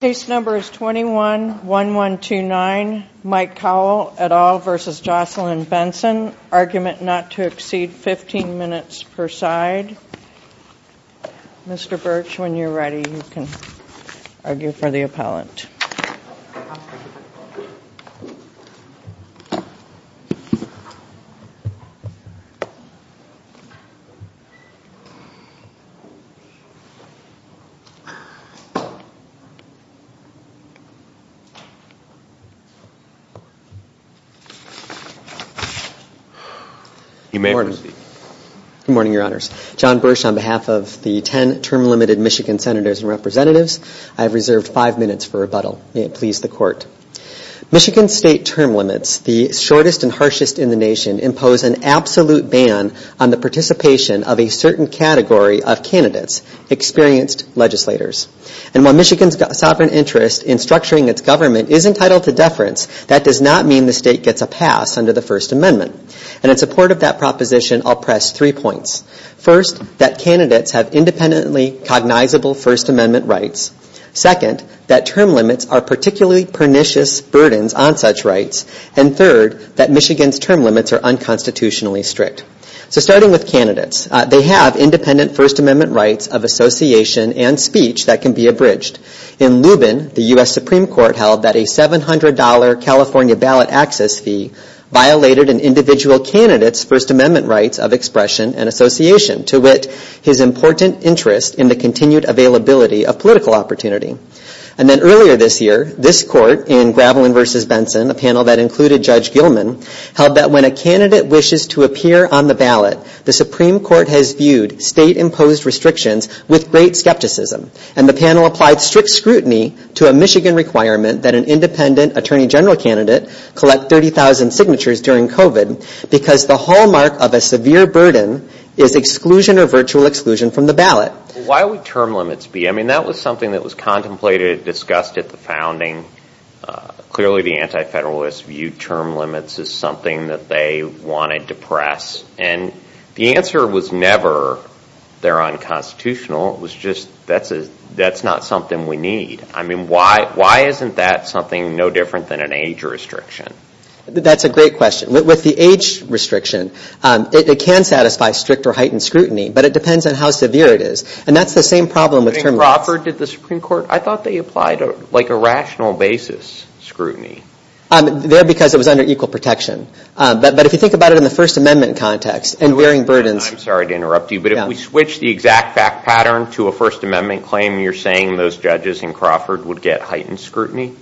Case number is 21-1129 Mike Kowall v. Jocelyn Benson Argument not to exceed 15 minutes per side Mr. Birch when you're ready you can argue for the appellant Good morning, your honors. John Birch on behalf of the 10 term-limited Michigan senators and representatives, I have reserved 5 minutes for rebuttal. May it please the court. Michigan's state term limits, the shortest and harshest in the nation, impose an absolute ban on the participation of a certain category of candidates, experienced legislators. And while Michigan's sovereign interest in structuring its government is entitled to deference, that does not mean the state gets a pass under the First Amendment. And in support of that proposition, I'll press three points. First, that candidates have independently cognizable First Amendment rights. Second, that term limits are particularly pernicious burdens on such rights. And third, that Michigan's term limits are unconstitutionally strict. So starting with candidates, they have independent First Amendment rights of association and speech that can be abridged. In Lubin, the U.S. Supreme Court held that a $700 California ballot access fee violated an individual candidate's First Amendment rights of expression and association, to wit, his important interest in the continued availability of political opportunity. And then earlier this year, this court in Gravelin v. Benson, a panel that included Judge Gilman, held that when a candidate wishes to appear on the ballot, the Supreme Court has viewed state-imposed restrictions with great skepticism. And the panel applied strict scrutiny to a Michigan requirement that an independent Attorney General candidate collect 30,000 signatures during COVID because the hallmark of a severe burden is exclusion or virtual exclusion from the ballot. Why would term limits be? I mean, that was something that was contemplated, discussed at the founding. Clearly, the anti-Federalists viewed term limits as something that they wanted to press. And the answer was never they're unconstitutional. It was just that's not something we need. I mean, why isn't that something no different than an age restriction? That's a great question. With the age restriction, it can satisfy strict or heightened scrutiny, but it depends on how severe it is. And that's the same problem with term limits. In Crawford, did the Supreme Court, I thought they applied like a rational basis scrutiny. There, because it was under equal protection. But if you think about it in the First Amendment context and varying burdens. I'm sorry to interrupt you, but if we switch the exact fact pattern to a First Amendment claim, you're saying those judges in Crawford would get heightened scrutiny?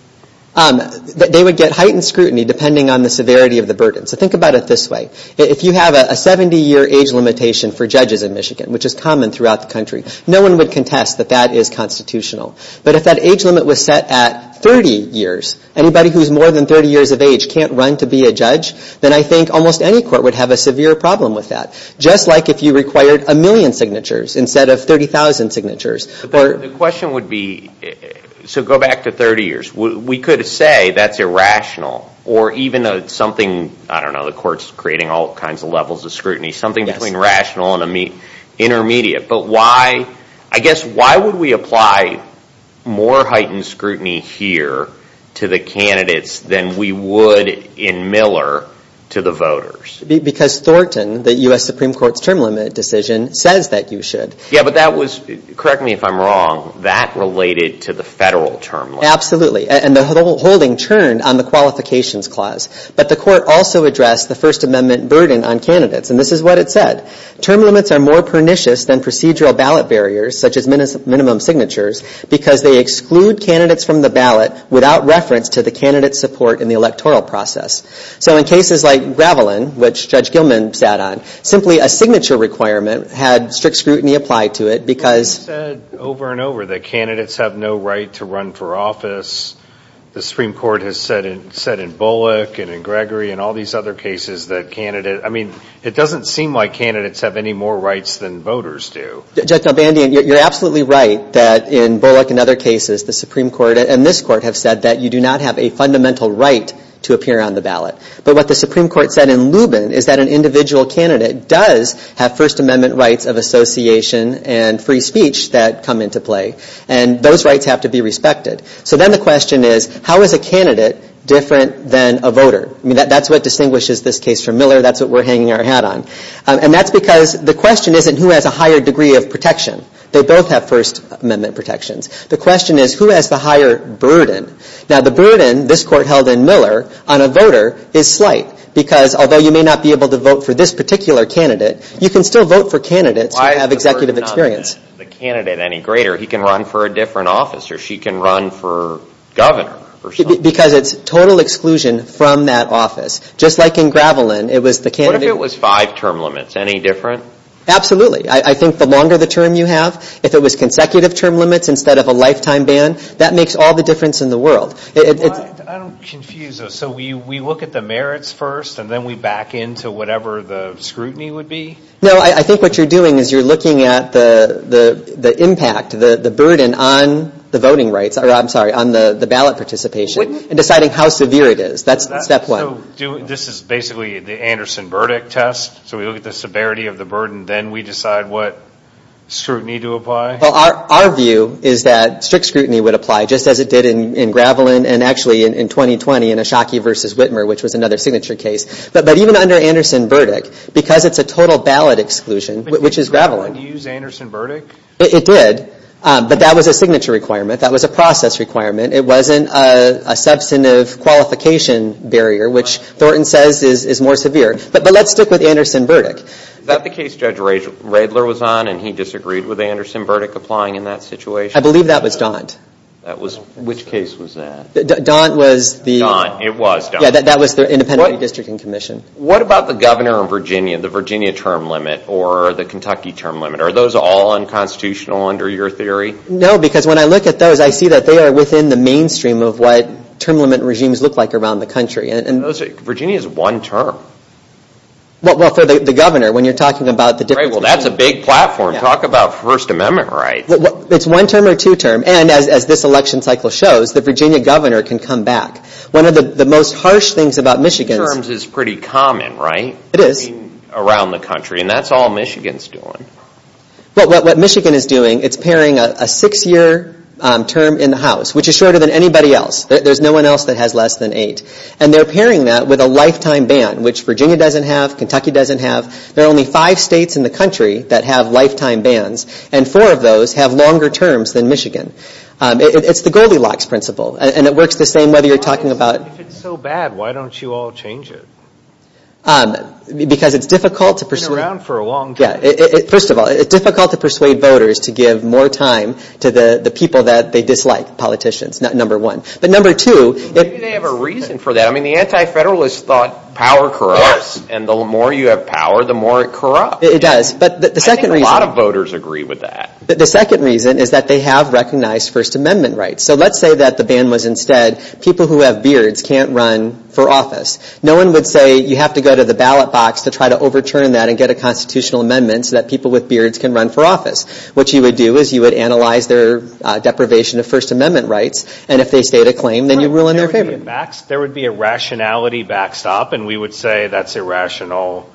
They would get heightened scrutiny depending on the severity of the burden. So think about it this way. If you have a 70-year age limitation for judges in Michigan, which is common throughout the country, no one would contest that that is constitutional. But if that age limit was set at 30 years, anybody who's more than 30 years of age can't run to be a judge, then I think almost any court would have a severe problem with that. Just like if you required a million signatures instead of 30,000 signatures. But the question would be, so go back to 30 years. We could say that's irrational or even something, I don't know, the court's creating all kinds of levels of scrutiny, something between rational and intermediate. But why, I guess, why would we apply more heightened scrutiny here to the candidates than we would in Miller to the voters? Because Thornton, the U.S. Supreme Court's term limit decision, says that you should. Yeah, but that was, correct me if I'm wrong, that related to the federal term limit. Absolutely. And the holding turned on the qualifications clause. But the court also addressed the First Amendment burden on candidates. And this is what it said. Term limits are more pernicious than procedural ballot barriers, such as minimum signatures, because they exclude candidates from the ballot without reference to the candidate's support in the electoral process. So in cases like Gravelin, which Judge Gilman sat on, simply a signature requirement had strict scrutiny applied to it because You've said over and over that candidates have no right to run for office. The Supreme Court has said in Bullock and in Gregory and all these other cases that candidates, I mean, it doesn't seem like candidates have any more rights than voters do. Judge Delbandia, you're absolutely right that in Bullock and other cases, the Supreme Court and this court have said that you do not have a fundamental right to appear on the ballot. But what the Supreme Court said in Lubin is that an individual candidate does have First Amendment rights of association and free speech that come into play. And those rights have to be respected. So then the question is, how is a candidate different than a voter? I mean, that's what distinguishes this case from Miller. That's what we're hanging our hat on. And that's because the question isn't who has a higher degree of protection. They both have First Amendment protections. The question is, who has the higher burden? Now, the burden this court held in Miller on a voter is slight. Because although you may not be able to vote for this particular candidate, you can still vote for candidates who have executive experience. Why is the burden not on the candidate any greater? He can run for a different office or she can run for governor or something. Because it's total exclusion from that office. Just like in Gravelin, it was the candidate What if it was five term limits? Any different? Absolutely. I think the longer the term you have, if it was consecutive term limits instead of a lifetime ban, that makes all the difference in the world. I don't confuse those. So we look at the merits first and then we back into whatever the scrutiny would be? No, I think what you're doing is you're looking at the impact, the burden on the voting rights. I'm sorry, on the ballot participation and deciding how severe it is. That's step one. So this is basically the Anderson-Burdick test? So we look at the severity of the burden, then we decide what scrutiny to apply? Well, our view is that strict scrutiny would apply, just as it did in Gravelin and actually in 2020 in Ashaki v. Whitmer, which was another signature case. But even under Anderson-Burdick, because it's a total ballot exclusion, which is Gravelin. Did Gravelin use Anderson-Burdick? It did, but that was a signature requirement. That was a process requirement. It wasn't a substantive qualification barrier, which Thornton says is more severe. But let's stick with Anderson-Burdick. Is that the case Judge Radler was on and he disagreed with Anderson-Burdick applying in that situation? I believe that was Daunt. Which case was that? Daunt was the – Daunt, it was Daunt. Yeah, that was the Independent Redistricting Commission. What about the governor in Virginia, the Virginia term limit or the Kentucky term limit? Are those all unconstitutional under your theory? No, because when I look at those, I see that they are within the mainstream of what term limit regimes look like around the country. Virginia is one term. Well, for the governor, when you're talking about the different – Right, well, that's a big platform. Talk about First Amendment rights. It's one term or two term. And as this election cycle shows, the Virginia governor can come back. One of the most harsh things about Michigan – It is. Around the country. And that's all Michigan's doing. Well, what Michigan is doing, it's pairing a six-year term in the House, which is shorter than anybody else. There's no one else that has less than eight. And they're pairing that with a lifetime ban, which Virginia doesn't have, Kentucky doesn't have. There are only five states in the country that have lifetime bans. And four of those have longer terms than Michigan. It's the Goldilocks principle. And it works the same whether you're talking about – If it's so bad, why don't you all change it? Because it's difficult to persuade – It's been around for a long time. First of all, it's difficult to persuade voters to give more time to the people that they dislike, politicians, number one. But number two – Maybe they have a reason for that. I mean, the anti-federalists thought power corrupts. And the more you have power, the more it corrupts. It does. But the second reason – I think a lot of voters agree with that. The second reason is that they have recognized First Amendment rights. So let's say that the ban was instead people who have beards can't run for office. No one would say you have to go to the ballot box to try to overturn that and get a constitutional amendment so that people with beards can run for office. What you would do is you would analyze their deprivation of First Amendment rights. And if they state a claim, then you rule in their favor. There would be a rationality backstop. And we would say that's irrational.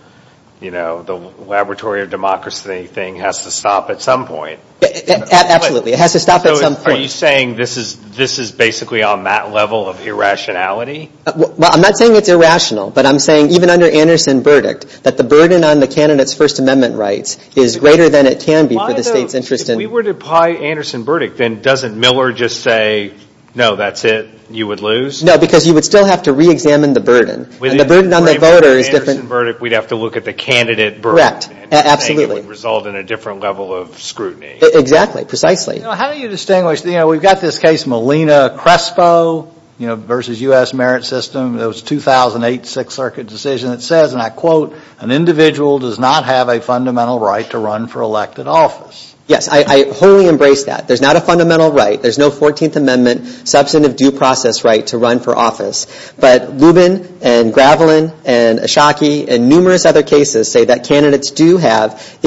You know, the laboratory of democracy thing has to stop at some point. Absolutely. It has to stop at some point. Are you saying this is basically on that level of irrationality? Well, I'm not saying it's irrational. But I'm saying even under Anderson Burdick that the burden on the candidates' First Amendment rights is greater than it can be for the state's interest in – If we were to apply Anderson Burdick, then doesn't Miller just say, no, that's it, you would lose? No, because you would still have to reexamine the burden. And the burden on the voter is different – If we were to apply Anderson Burdick, we'd have to look at the candidate burden. Correct. Absolutely. And you're saying it would result in a different level of scrutiny. Exactly. Precisely. You know, how do you distinguish – We've got this case Molina-Crespo versus U.S. Merit System. It was a 2008 Sixth Circuit decision that says, and I quote, an individual does not have a fundamental right to run for elected office. Yes. I wholly embrace that. There's not a fundamental right. There's no 14th Amendment substantive due process right to run for office. But Lubin and Gravelin and Ashaki and numerous other cases say that candidates do have That's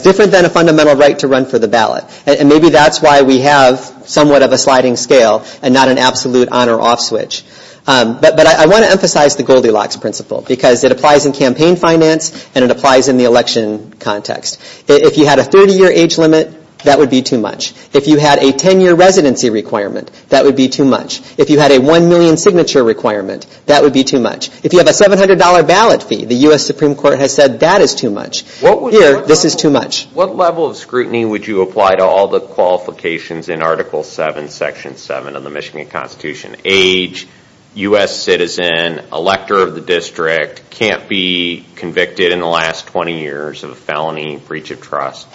different than a fundamental right to run for the ballot. And maybe that's why we have somewhat of a sliding scale and not an absolute on or off switch. But I want to emphasize the Goldilocks principle, because it applies in campaign finance and it applies in the election context. If you had a 30-year age limit, that would be too much. If you had a 10-year residency requirement, that would be too much. If you had a 1 million signature requirement, that would be too much. If you have a $700 ballot fee, the U.S. Supreme Court has said that is too much. Here, this is too much. What level of scrutiny would you apply to all the qualifications in Article 7, Section 7 of the Michigan Constitution? Age, U.S. citizen, elector of the district, can't be convicted in the last 20 years of a felony, breach of trust.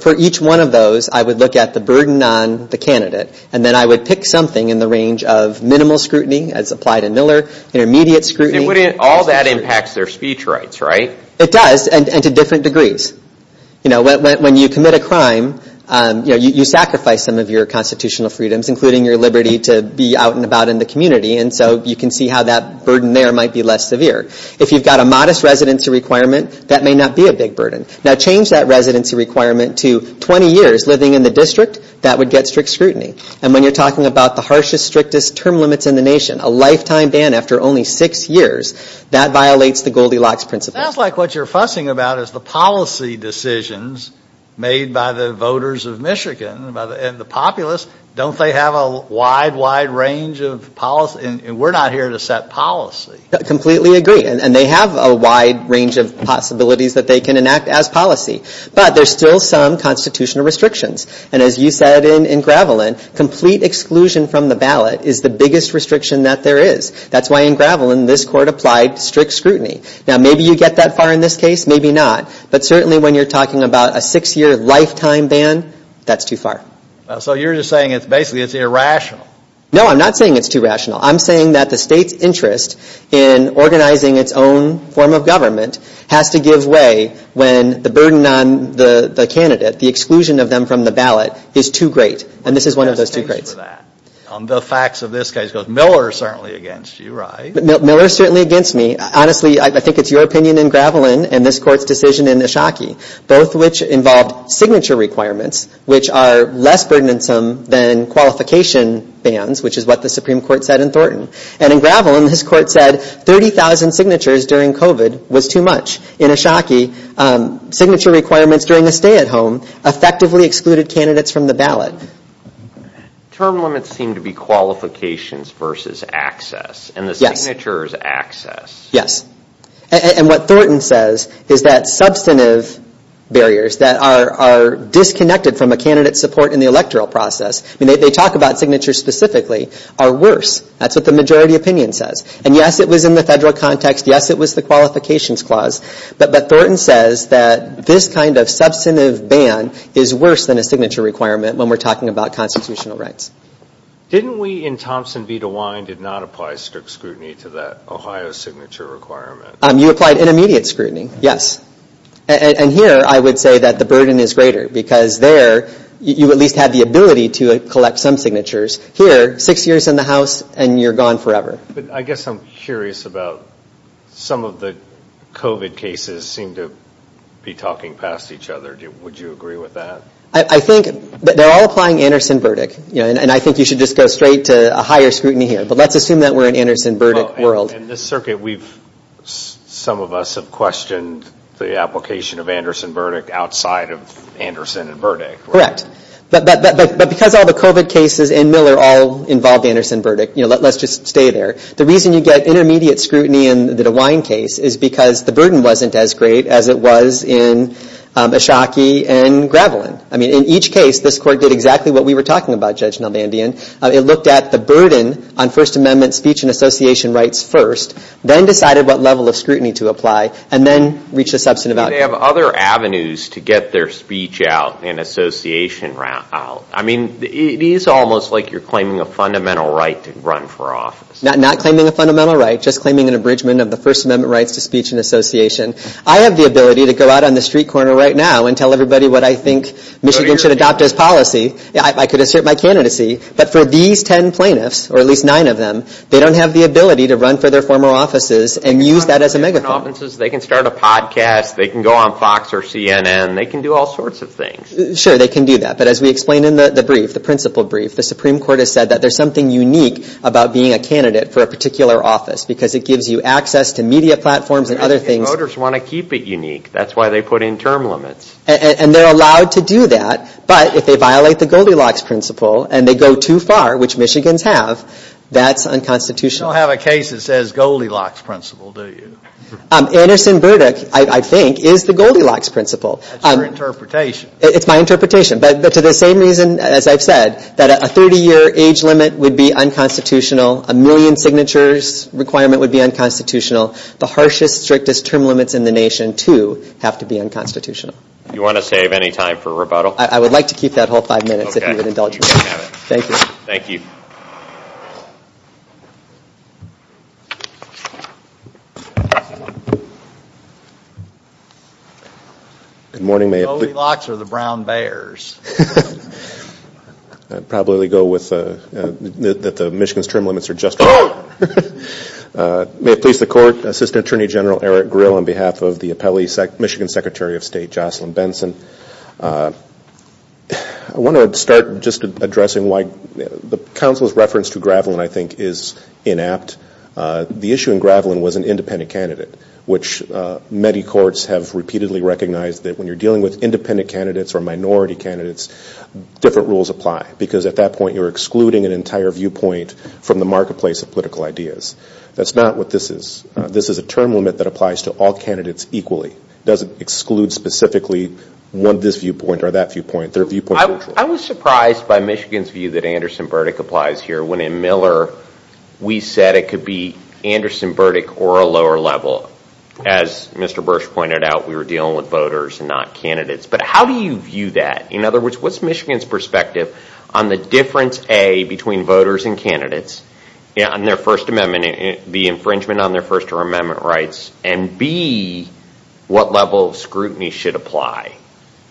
For each one of those, I would look at the burden on the candidate. And then I would pick something in the range of minimal scrutiny, as applied in Miller, intermediate scrutiny. All that impacts their speech rights, right? It does, and to different degrees. When you commit a crime, you sacrifice some of your constitutional freedoms, including your liberty to be out and about in the community. And so you can see how that burden there might be less severe. If you've got a modest residency requirement, that may not be a big burden. Now, change that residency requirement to 20 years living in the district, that would get strict scrutiny. And when you're talking about the harshest, strictest term limits in the nation, a lifetime ban after only six years, that violates the Goldilocks principle. It sounds like what you're fussing about is the policy decisions made by the voters of Michigan and the populace. Don't they have a wide, wide range of policy? And we're not here to set policy. I completely agree. And they have a wide range of possibilities that they can enact as policy. But there's still some constitutional restrictions. And as you said in Gravelin, complete exclusion from the ballot is the biggest restriction that there is. That's why in Gravelin, this court applied strict scrutiny. Now, maybe you get that far in this case, maybe not. But certainly when you're talking about a six-year lifetime ban, that's too far. So you're just saying basically it's irrational. No, I'm not saying it's too rational. I'm saying that the state's interest in organizing its own form of government has to give way when the burden on the candidate, the exclusion of them from the ballot, is too great. And this is one of those two greats. The facts of this case, Miller is certainly against you, right? Miller is certainly against me. Honestly, I think it's your opinion in Gravelin and this court's decision in Ashaki, both of which involved signature requirements, which are less burdensome than qualification bans, which is what the Supreme Court said in Thornton. And in Gravelin, this court said 30,000 signatures during COVID was too much. In Ashaki, signature requirements during a stay-at-home effectively excluded candidates from the ballot. Term limits seem to be qualifications versus access. And the signature is access. Yes. And what Thornton says is that substantive barriers that are disconnected from a candidate's support in the electoral process, they talk about signatures specifically, are worse. That's what the majority opinion says. And yes, it was in the federal context. Yes, it was the qualifications clause. But Thornton says that this kind of substantive ban is worse than a signature requirement when we're talking about constitutional rights. Didn't we, in Thompson v. DeWine, did not apply strict scrutiny to that Ohio signature requirement? You applied intermediate scrutiny. Yes. And here, I would say that the burden is greater because there, you at least had the ability to collect some signatures. Here, six years in the House and you're gone forever. But I guess I'm curious about some of the COVID cases seem to be talking past each other. Would you agree with that? I think that they're all applying Anderson-Burdick. And I think you should just go straight to a higher scrutiny here. But let's assume that we're in Anderson-Burdick world. In this circuit, some of us have questioned the application of Anderson-Burdick outside of Anderson and Burdick. Correct. But because all the COVID cases and Miller all involve Anderson-Burdick, let's just stay there. The reason you get intermediate scrutiny in the DeWine case is because the burden wasn't as great as it was in Ashaki and Gravelin. I mean, in each case, this court did exactly what we were talking about, Judge Nalbandian. It looked at the burden on First Amendment speech and association rights first, then decided what level of scrutiny to apply, and then reached a substantive outcome. They have other avenues to get their speech out and association out. I mean, it is almost like you're claiming a fundamental right to run for office. Not claiming a fundamental right, just claiming an abridgment of the First Amendment rights to speech and association. I have the ability to go out on the street corner right now and tell everybody what I think Michigan should adopt as policy. I could assert my candidacy. But for these ten plaintiffs, or at least nine of them, they don't have the ability to run for their former offices and use that as a megaphone. They can start a podcast. They can go on Fox or CNN. They can do all sorts of things. Sure, they can do that. But as we explained in the brief, the principle brief, the Supreme Court has said that there's something unique about being a candidate for a particular office. Because it gives you access to media platforms and other things. And voters want to keep it unique. That's why they put in term limits. And they're allowed to do that. But if they violate the Goldilocks principle and they go too far, which Michigans have, that's unconstitutional. You don't have a case that says Goldilocks principle, do you? Anderson Burdick, I think, is the Goldilocks principle. That's your interpretation. It's my interpretation. But to the same reason, as I've said, that a 30-year age limit would be unconstitutional. A million signatures requirement would be unconstitutional. The harshest, strictest term limits in the nation, too, have to be unconstitutional. You want to save any time for rebuttal? I would like to keep that whole five minutes if you would indulge me. Okay, you can have it. Thank you. Thank you. Good morning. Goldilocks or the Brown Bears? I'd probably go with that the Michigan's term limits are just right. May it please the Court, Assistant Attorney General Eric Grill on behalf of the appellee, Michigan Secretary of State Jocelyn Benson. I want to start just addressing why the counsel's reference to Gravelin, I think, is inapt. The issue in Gravelin was an independent candidate, which many courts have repeatedly recognized that when you're dealing with independent candidates or minority candidates, different rules apply. Because at that point, you're excluding an entire viewpoint from the marketplace of political ideas. That's not what this is. This is a term limit that applies to all candidates equally. It doesn't exclude specifically one this viewpoint or that viewpoint. They're viewpoint mutual. I was surprised by Michigan's view that Anderson-Burdick applies here when in Miller, we said it could be Anderson-Burdick or a lower level. As Mr. Bursch pointed out, we were dealing with voters and not candidates. But how do you view that? In other words, what's Michigan's perspective on the difference, A, between voters and candidates and their First Amendment, the infringement on their First Amendment rights, and, B, what level of scrutiny should apply?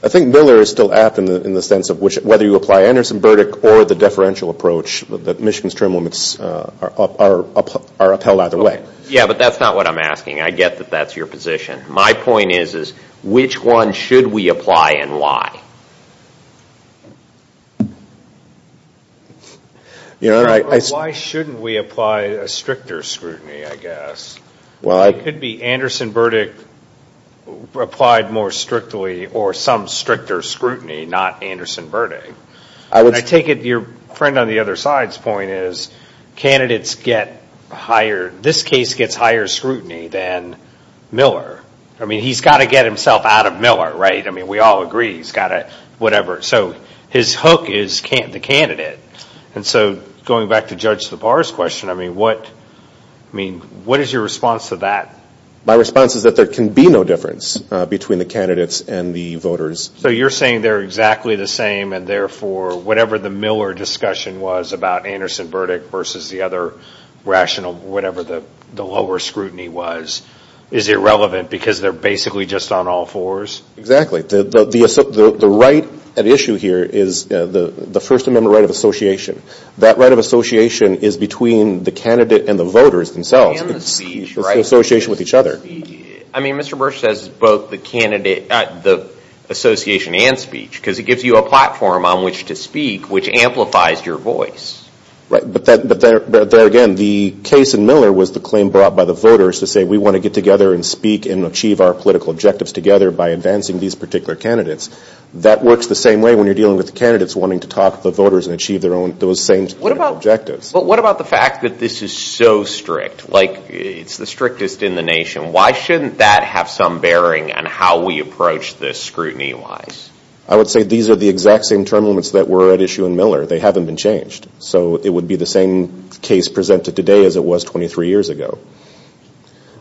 I think Miller is still apt in the sense of whether you apply Anderson-Burdick or the deferential approach that Michigan's term limits are upheld either way. Yeah, but that's not what I'm asking. I get that that's your position. My point is, which one should we apply and why? Why shouldn't we apply a stricter scrutiny, I guess? It could be Anderson-Burdick applied more strictly or some stricter scrutiny, not Anderson-Burdick. I take it your friend on the other side's point is candidates get higher, this case gets higher scrutiny than Miller. I mean, he's got to get himself out of Miller, right? I mean, we all agree he's got to, whatever. So his hook is the candidate. And so going back to Judge Lepar's question, I mean, what is your response to that? My response is that there can be no difference between the candidates and the voters. So you're saying they're exactly the same, and therefore whatever the Miller discussion was about Anderson-Burdick versus the other rational, whatever the lower scrutiny was, is irrelevant because they're basically just on all fours? Exactly. The right at issue here is the First Amendment right of association. That right of association is between the candidate and the voters themselves. And the speech, right? It's the association with each other. I mean, Mr. Bursch says both the association and speech because it gives you a platform on which to speak which amplifies your voice. Right. But there again, the case in Miller was the claim brought by the voters to say we want to get together and speak and achieve our political objectives together by advancing these particular candidates. That works the same way when you're dealing with the candidates wanting to talk to the voters and achieve those same objectives. But what about the fact that this is so strict? Like it's the strictest in the nation. Why shouldn't that have some bearing on how we approach this scrutiny-wise? I would say these are the exact same term limits that were at issue in Miller. They haven't been changed. So it would be the same case presented today as it was 23 years ago.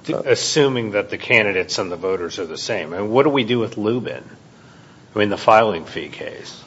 Assuming that the candidates and the voters are the same. And what do we do with Lubin? I mean, the filing fee case.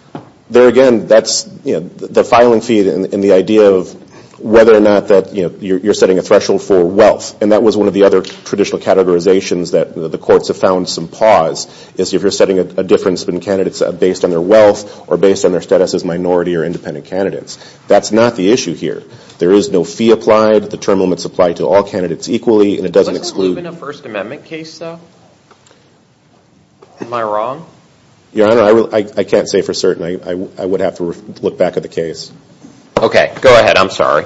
There again, that's the filing fee and the idea of whether or not that you're setting a threshold for wealth. And that was one of the other traditional categorizations that the courts have found some pause is if you're setting a difference when candidates are based on their wealth or based on their status as minority or independent candidates. That's not the issue here. There is no fee applied. The term limits apply to all candidates equally. And it doesn't exclude. Wasn't Lubin a First Amendment case, though? Am I wrong? Your Honor, I can't say for certain. I would have to look back at the case. Okay. Go ahead. I'm sorry.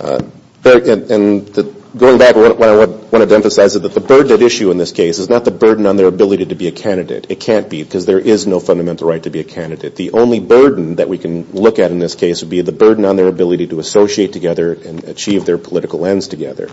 And going back, what I wanted to emphasize is that the burden at issue in this case is not the burden on their ability to be a candidate. It can't be because there is no fundamental right to be a candidate. The only burden that we can look at in this case would be the burden on their ability to associate together and achieve their political ends together.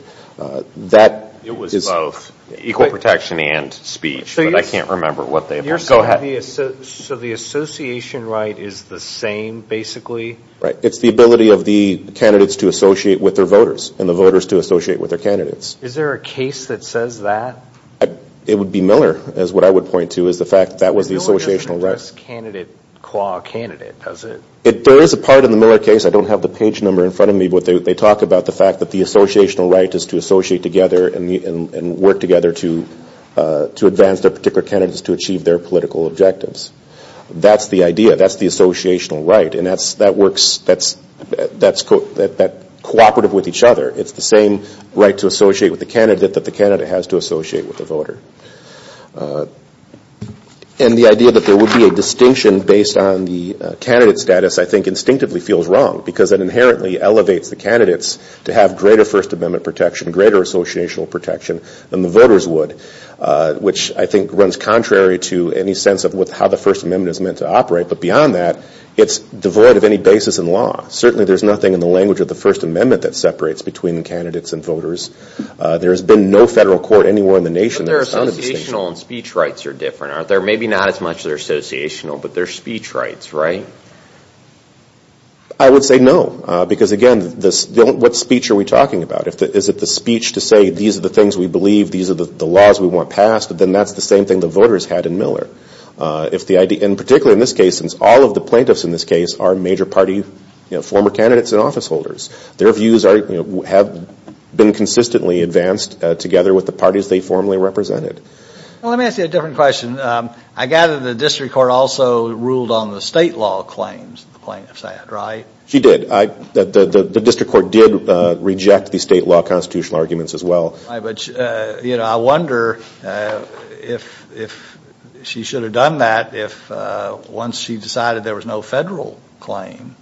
It was both equal protection and speech, but I can't remember what they were. Go ahead. So the association right is the same, basically? Right. It's the ability of the candidates to associate with their voters and the voters to associate with their candidates. Is there a case that says that? It would be Miller, is what I would point to, is the fact that that was the associational right. Miller doesn't address candidate qua candidate, does it? There is a part in the Miller case. I don't have the page number in front of me, but they talk about the fact that the associational right is to associate together and work together to advance their particular candidates to achieve their political objectives. That's the idea. That's the associational right, and that's cooperative with each other. It's the same right to associate with the candidate that the candidate has to associate with the voter. And the idea that there would be a distinction based on the candidate status, I think, instinctively feels wrong because it inherently elevates the candidates to have greater First Amendment protection, greater associational protection than the voters would, which I think runs contrary to any sense of how the First Amendment is meant to operate. But beyond that, it's devoid of any basis in law. Certainly, there's nothing in the language of the First Amendment that separates between candidates and voters. There has been no federal court anywhere in the nation that has found a distinction. But their associational and speech rights are different, aren't they? Maybe not as much their associational, but their speech rights, right? I would say no because, again, what speech are we talking about? Is it the speech to say these are the things we believe, these are the laws we want passed? Then that's the same thing the voters had in Miller. And particularly in this case, since all of the plaintiffs in this case are major party former candidates and office holders, their views have been consistently advanced together with the parties they formerly represented. Well, let me ask you a different question. I gather the district court also ruled on the state law claims the plaintiffs had, right? She did. The district court did reject the state law constitutional arguments as well. I wonder if she should have done that if once she decided there was no federal claim,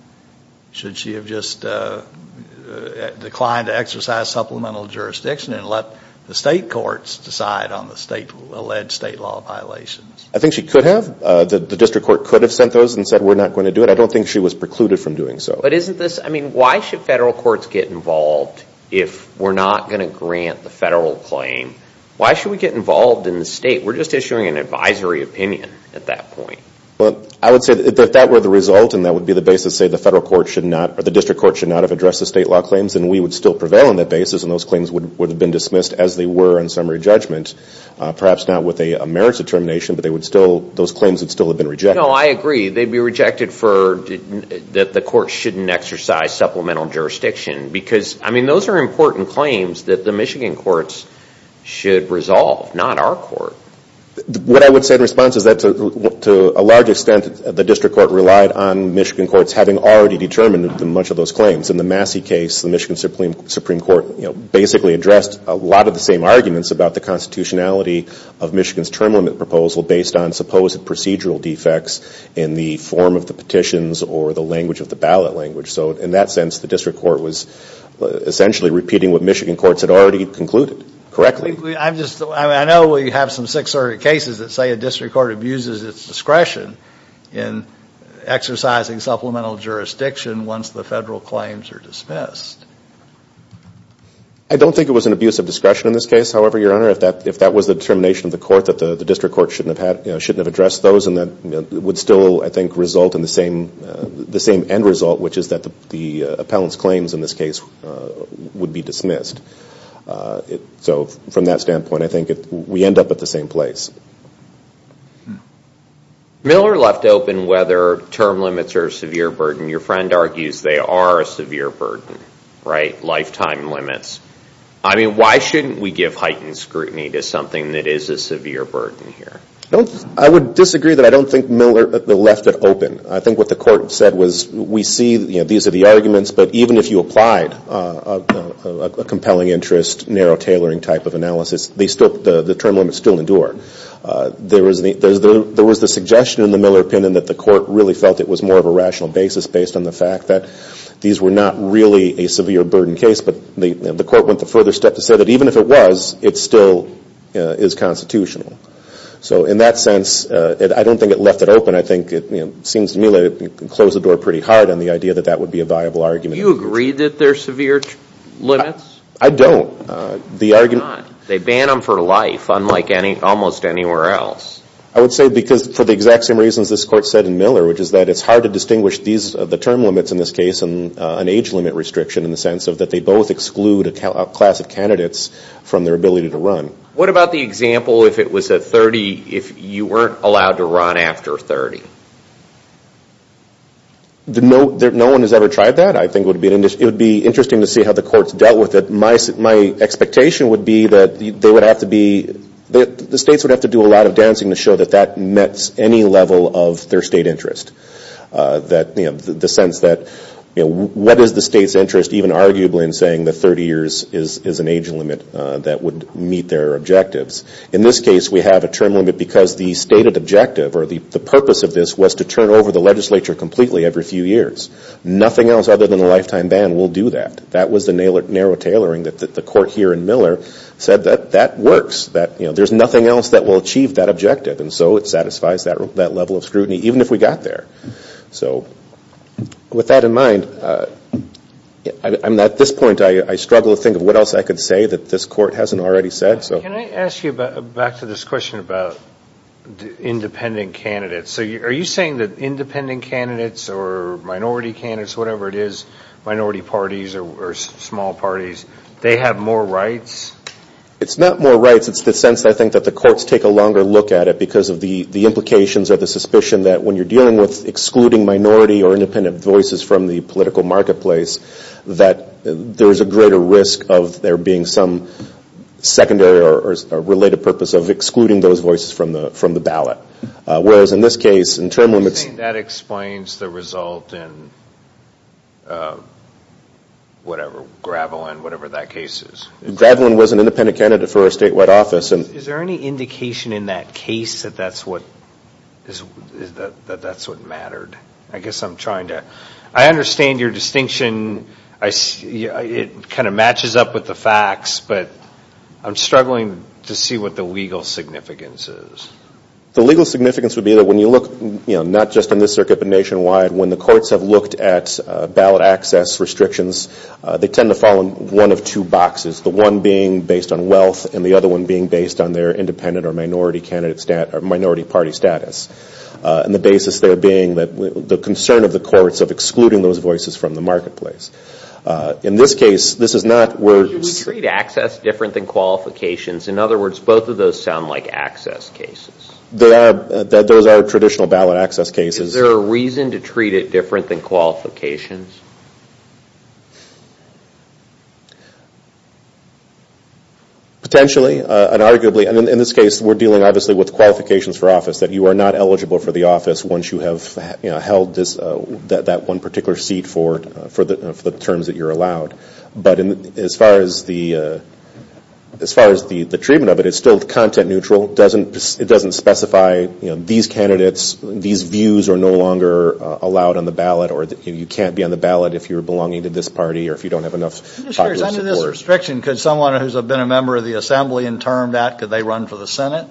should she have just declined to exercise supplemental jurisdiction and let the state courts decide on the state-led state law violations? I think she could have. The district court could have sent those and said we're not going to do it. I don't think she was precluded from doing so. But isn't this, I mean, why should federal courts get involved if we're not going to grant the federal claim? Why should we get involved in the state? We're just issuing an advisory opinion at that point. Well, I would say that if that were the result and that would be the basis to say the federal court should not, or the district court should not have addressed the state law claims, then we would still prevail on that basis and those claims would have been dismissed as they were in summary judgment, perhaps not with a merits determination, but those claims would still have been rejected. No, I agree. They'd be rejected for that the court shouldn't exercise supplemental jurisdiction because, I mean, those are important claims that the Michigan courts should resolve, not our court. What I would say in response is that to a large extent, the district court relied on Michigan courts having already determined much of those claims. In the Massey case, the Michigan Supreme Court, you know, basically addressed a lot of the same arguments about the constitutionality of Michigan's term limit proposal based on supposed procedural defects in the form of the petitions or the language of the ballot language. So in that sense, the district court was essentially repeating what Michigan courts had already concluded correctly. I know we have some Sixth Circuit cases that say a district court abuses its discretion in exercising supplemental jurisdiction once the federal claims are dismissed. I don't think it was an abuse of discretion in this case. However, Your Honor, if that was the determination of the court that the district court shouldn't have addressed those, it would still, I think, result in the same end result, which is that the appellant's claims in this case would be dismissed. So from that standpoint, I think we end up at the same place. Miller left open whether term limits are a severe burden. Your friend argues they are a severe burden, right, lifetime limits. Why shouldn't we give heightened scrutiny to something that is a severe burden here? I would disagree that I don't think Miller left it open. I think what the court said was we see these are the arguments, but even if you applied a compelling interest, narrow tailoring type of analysis, the term limits still endure. There was the suggestion in the Miller opinion that the court really felt it was more of a rational basis based on the fact that these were not really a severe burden case. But the court went the further step to say that even if it was, it still is constitutional. So in that sense, I don't think it left it open. I think it seems to me that it closed the door pretty hard on the idea that that would be a viable argument. Do you agree that there are severe limits? I don't. They ban them for life, unlike almost anywhere else. I would say because for the exact same reasons this court said in Miller, which is that it's hard to distinguish the term limits in this case and an age limit restriction in the sense that they both exclude a class of candidates from their ability to run. What about the example if you weren't allowed to run after 30? No one has ever tried that. I think it would be interesting to see how the courts dealt with it. My expectation would be that the states would have to do a lot of dancing to show that that met any level of their state interest. The sense that what is the state's interest, even arguably in saying that 30 years is an age limit that would meet their objectives. In this case, we have a term limit because the stated objective or the purpose of this was to turn over the legislature completely every few years. Nothing else other than a lifetime ban will do that. That was the narrow tailoring that the court here in Miller said that that works. There's nothing else that will achieve that objective. It satisfies that level of scrutiny even if we got there. With that in mind, at this point I struggle to think of what else I could say that this court hasn't already said. Can I ask you back to this question about independent candidates? Are you saying that independent candidates or minority candidates, whatever it is, minority parties or small parties, they have more rights? It's not more rights. It's the sense, I think, that the courts take a longer look at it because of the implications or the suspicion that when you're dealing with excluding minority or independent voices from the political marketplace, that there's a greater risk of there being some secondary or related purpose of excluding those voices from the ballot. Whereas in this case, in term limits… You're saying that explains the result in whatever, Gravelin, whatever that case is. Gravelin was an independent candidate for a statewide office. Is there any indication in that case that that's what mattered? I guess I'm trying to… I understand your distinction. It kind of matches up with the facts, but I'm struggling to see what the legal significance is. The legal significance would be that when you look not just in this circuit but nationwide, when the courts have looked at ballot access restrictions, they tend to fall in one of two boxes, the one being based on wealth and the other one being based on their independent or minority party status, and the basis there being the concern of the courts of excluding those voices from the marketplace. In this case, this is not where… Do you treat access different than qualifications? In other words, both of those sound like access cases. Those are traditional ballot access cases. Is there a reason to treat it different than qualifications? Potentially and arguably. In this case, we're dealing obviously with qualifications for office, that you are not eligible for the office once you have held that one particular seat for the terms that you're allowed. But as far as the treatment of it, it's still content neutral. It doesn't specify these candidates, these views are no longer allowed on the ballot or you can't be on the ballot if you're belonging to this party or if you don't have enough popular support. Under this restriction, could someone who's been a member of the Assembly and termed that, could they run for the Senate?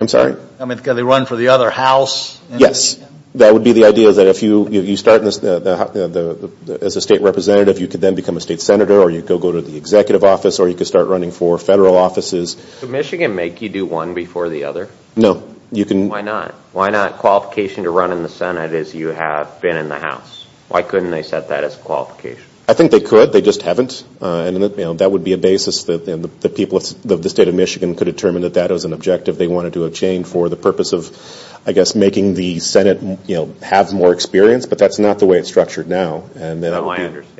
I'm sorry? I mean, could they run for the other house? Yes. That would be the idea that if you start as a state representative, you could then become a state senator or you could go to the executive office or you could start running for federal offices. Could Michigan make you do one before the other? No. Why not? Why not? Qualification to run in the Senate is you have been in the House. Why couldn't they set that as a qualification? I think they could. They just haven't. That would be a basis that the people of the state of Michigan could determine that that was an objective they wanted to obtain for the purpose of, I guess, making the Senate have more experience. But that's not the way it's structured now. Oh, I understand.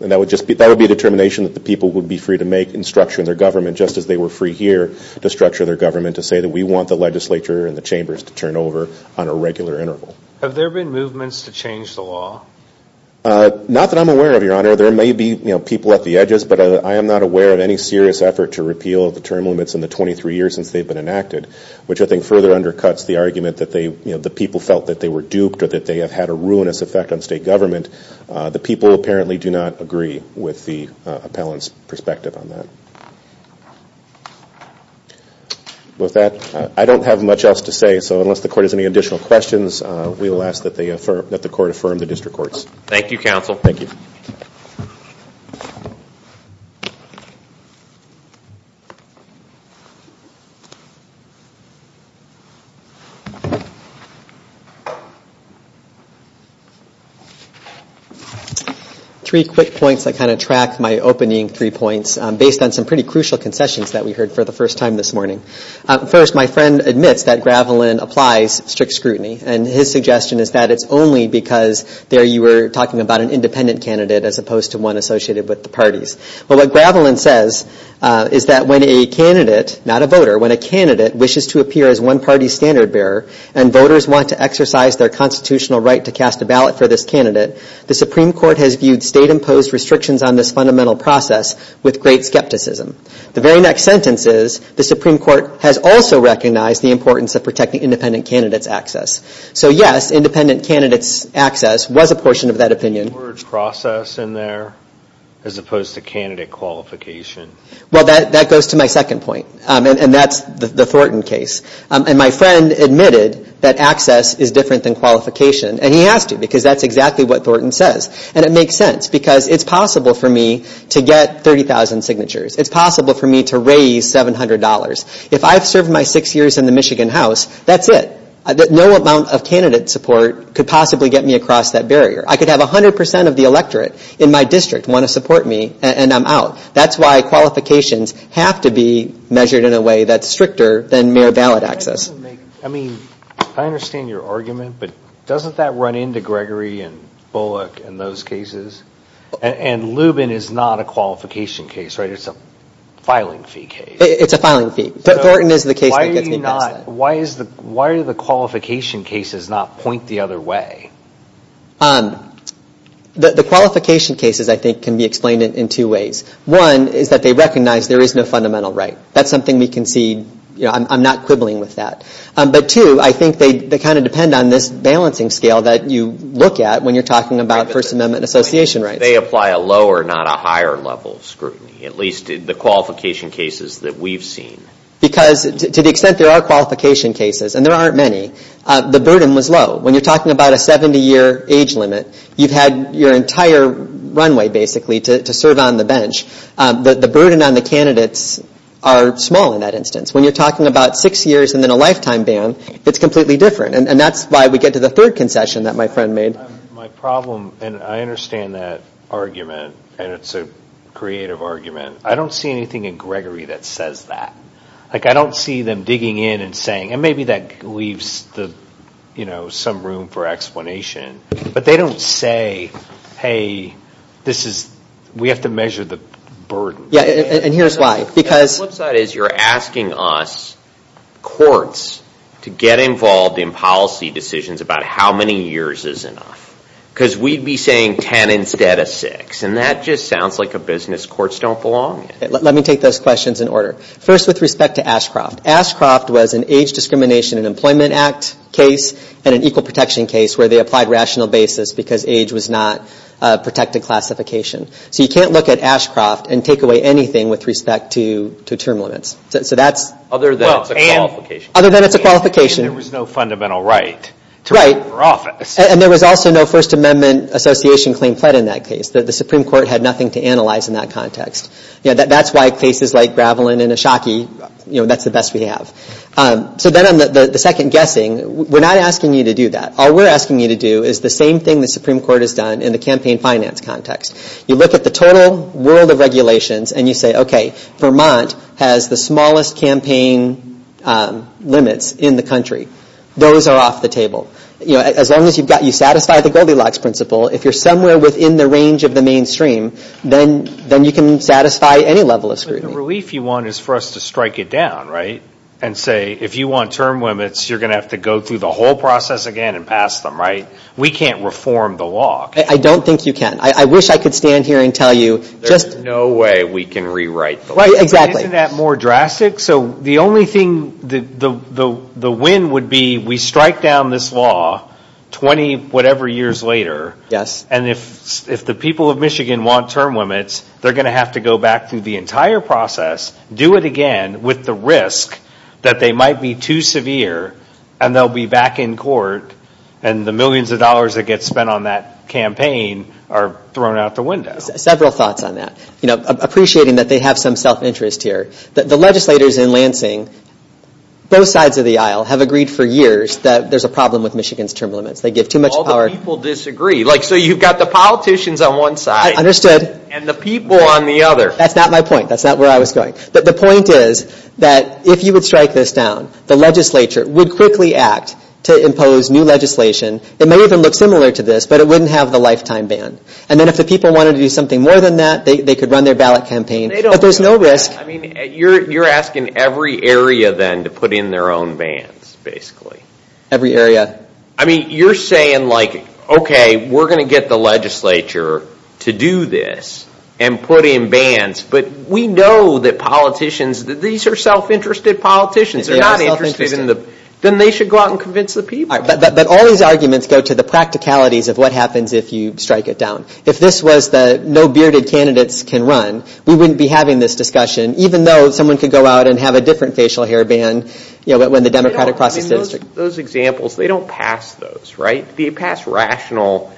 That would be a determination that the people would be free to make in structuring their government just as they were free here to structure their government to say that we want the legislature and the chambers to turn over on a regular interval. Have there been movements to change the law? Not that I'm aware of, Your Honor. There may be people at the edges, but I am not aware of any serious effort to repeal the term limits in the 23 years since they've been enacted, which I think further undercuts the argument that the people felt that they were duped or that they have had a ruinous effect on state government. The people apparently do not agree with the appellant's perspective on that. With that, I don't have much else to say, so unless the Court has any additional questions, we will ask that the Court affirm the district courts. Thank you, Counsel. Thank you. Three quick points that kind of track my opening three points based on some pretty crucial concessions that we heard for the first time this morning. First, my friend admits that Gravelin applies strict scrutiny, and his suggestion is that it's only because there you were talking about an independent candidate as opposed to one associated with the parties. But what Gravelin says is that when a candidate, not a voter, when a candidate wishes to appear as one party's standard bearer and voters want to exercise their constitutional right to cast a ballot for this candidate, the Supreme Court has viewed state-imposed restrictions on this fundamental process with great skepticism. The very next sentence is, the Supreme Court has also recognized the importance of protecting independent candidates' access. So, yes, independent candidates' access was a portion of that opinion. Well, that goes to my second point, and that's the Thornton case. And my friend admitted that access is different than qualification, and he has to, because that's exactly what Thornton says. And it makes sense, because it's possible for me to get 30,000 signatures. It's possible for me to raise $700. If I've served my six years in the Michigan House, that's it. No amount of candidate support could possibly get me across that barrier. I could have 100 percent of the electorate in my district want to support me, and I'm out. That's why qualifications have to be measured in a way that's stricter than mere ballot access. I mean, I understand your argument, but doesn't that run into Gregory and Bullock and those cases? And Lubin is not a qualification case, right? It's a filing fee case. It's a filing fee. Thornton is the case that gets me past that. Why do the qualification cases not point the other way? The qualification cases, I think, can be explained in two ways. One is that they recognize there is no fundamental right. That's something we can see. I'm not quibbling with that. But two, I think they kind of depend on this balancing scale that you look at when you're talking about First Amendment and association rights. They apply a lower, not a higher level of scrutiny, at least the qualification cases that we've seen. Because to the extent there are qualification cases, and there aren't many, the burden was low. When you're talking about a 70-year age limit, you've had your entire runway, basically, to serve on the bench. The burden on the candidates are small in that instance. When you're talking about six years and then a lifetime ban, it's completely different. And that's why we get to the third concession that my friend made. My problem, and I understand that argument, and it's a creative argument. I don't see anything in Gregory that says that. Like, I don't see them digging in and saying, and maybe that leaves some room for explanation. But they don't say, hey, this is, we have to measure the burden. Yeah, and here's why. The flip side is you're asking us, courts, to get involved in policy decisions about how many years is enough. Because we'd be saying ten instead of six. And that just sounds like a business courts don't belong in. Let me take those questions in order. First, with respect to Ashcroft. Ashcroft was an Age Discrimination and Employment Act case and an Equal Protection case where they applied rational basis because age was not a protected classification. So you can't look at Ashcroft and take away anything with respect to term limits. So that's... Other than it's a qualification. Other than it's a qualification. And there was no fundamental right to her office. And there was also no First Amendment Association claim pled in that case. The Supreme Court had nothing to analyze in that context. That's why cases like Gravelin and Ashaki, that's the best we have. So then on the second guessing, we're not asking you to do that. All we're asking you to do is the same thing the Supreme Court has done in the campaign finance context. You look at the total world of regulations and you say, okay, Vermont has the smallest campaign limits in the country. Those are off the table. As long as you satisfy the Goldilocks Principle, if you're somewhere within the range of the mainstream, then you can satisfy any level of scrutiny. The relief you want is for us to strike it down, right? And say, if you want term limits, you're going to have to go through the whole process again and pass them, right? We can't reform the law. I don't think you can. I wish I could stand here and tell you. There's no way we can rewrite the law. Exactly. Isn't that more drastic? So the only thing, the win would be we strike down this law 20-whatever years later. Yes. And if the people of Michigan want term limits, they're going to have to go back through the entire process, do it again with the risk that they might be too severe and they'll be back in court and the millions of dollars that get spent on that campaign are thrown out the window. Several thoughts on that. Appreciating that they have some self-interest here. The legislators in Lansing, both sides of the aisle, have agreed for years that there's a problem with Michigan's term limits. They give too much power. All the people disagree. So you've got the politicians on one side. Understood. And the people on the other. That's not my point. That's not where I was going. But the point is that if you would strike this down, the legislature would quickly act to impose new legislation. It may even look similar to this, but it wouldn't have the lifetime ban. And then if the people wanted to do something more than that, they could run their ballot campaign. But there's no risk. I mean, you're asking every area then to put in their own bans, basically. Every area. I mean, you're saying like, okay, we're going to get the legislature to do this and put in bans, but we know that politicians, that these are self-interested politicians. They're not interested in the. Then they should go out and convince the people. But all these arguments go to the practicalities of what happens if you strike it down. If this was the no bearded candidates can run, we wouldn't be having this discussion, even though someone could go out and have a different facial hair ban, you know, when the Democratic process is. Those examples, they don't pass those, right? They pass rational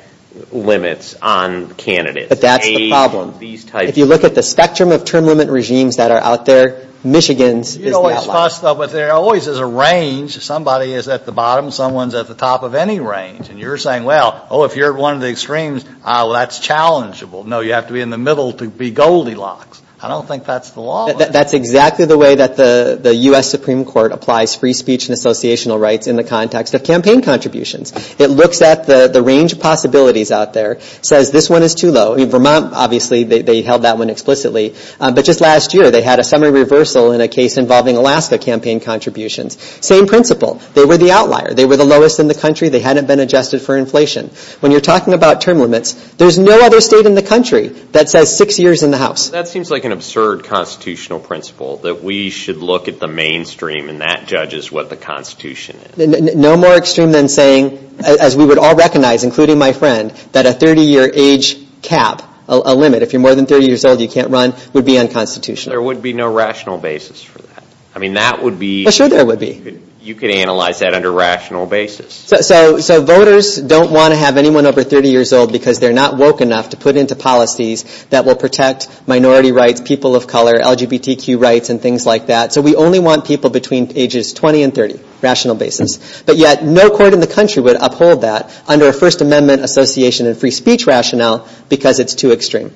limits on candidates. But that's the problem. If you look at the spectrum of term limit regimes that are out there, Michigan's is that low. But there always is a range. Somebody is at the bottom. Someone's at the top of any range. And you're saying, well, oh, if you're one of the extremes, that's challengeable. No, you have to be in the middle to be Goldilocks. I don't think that's the law. That's exactly the way that the U.S. Supreme Court applies free speech and associational rights in the context of campaign contributions. It looks at the range of possibilities out there, says this one is too low, Vermont, obviously, they held that one explicitly. But just last year, they had a summary reversal in a case involving Alaska campaign contributions. Same principle. They were the outlier. They were the lowest in the country. They hadn't been adjusted for inflation. When you're talking about term limits, there's no other state in the country that says six years in the House. That seems like an absurd constitutional principle, that we should look at the mainstream and that judges what the Constitution is. No more extreme than saying, as we would all recognize, including my friend, that a 30-year age cap, a limit, if you're more than 30 years old, you can't run, would be unconstitutional. There would be no rational basis for that. I mean, that would be. Sure there would be. You could analyze that under rational basis. So voters don't want to have anyone over 30 years old because they're not woke enough to put into policies that will protect minority rights, people of color, LGBTQ rights, and things like that. So we only want people between ages 20 and 30, rational basis. But yet, no court in the country would uphold that under a First Amendment association and free speech rationale because it's too extreme.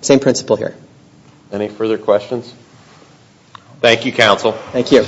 Same principle here. Any further questions? Thank you, counsel. Thank you.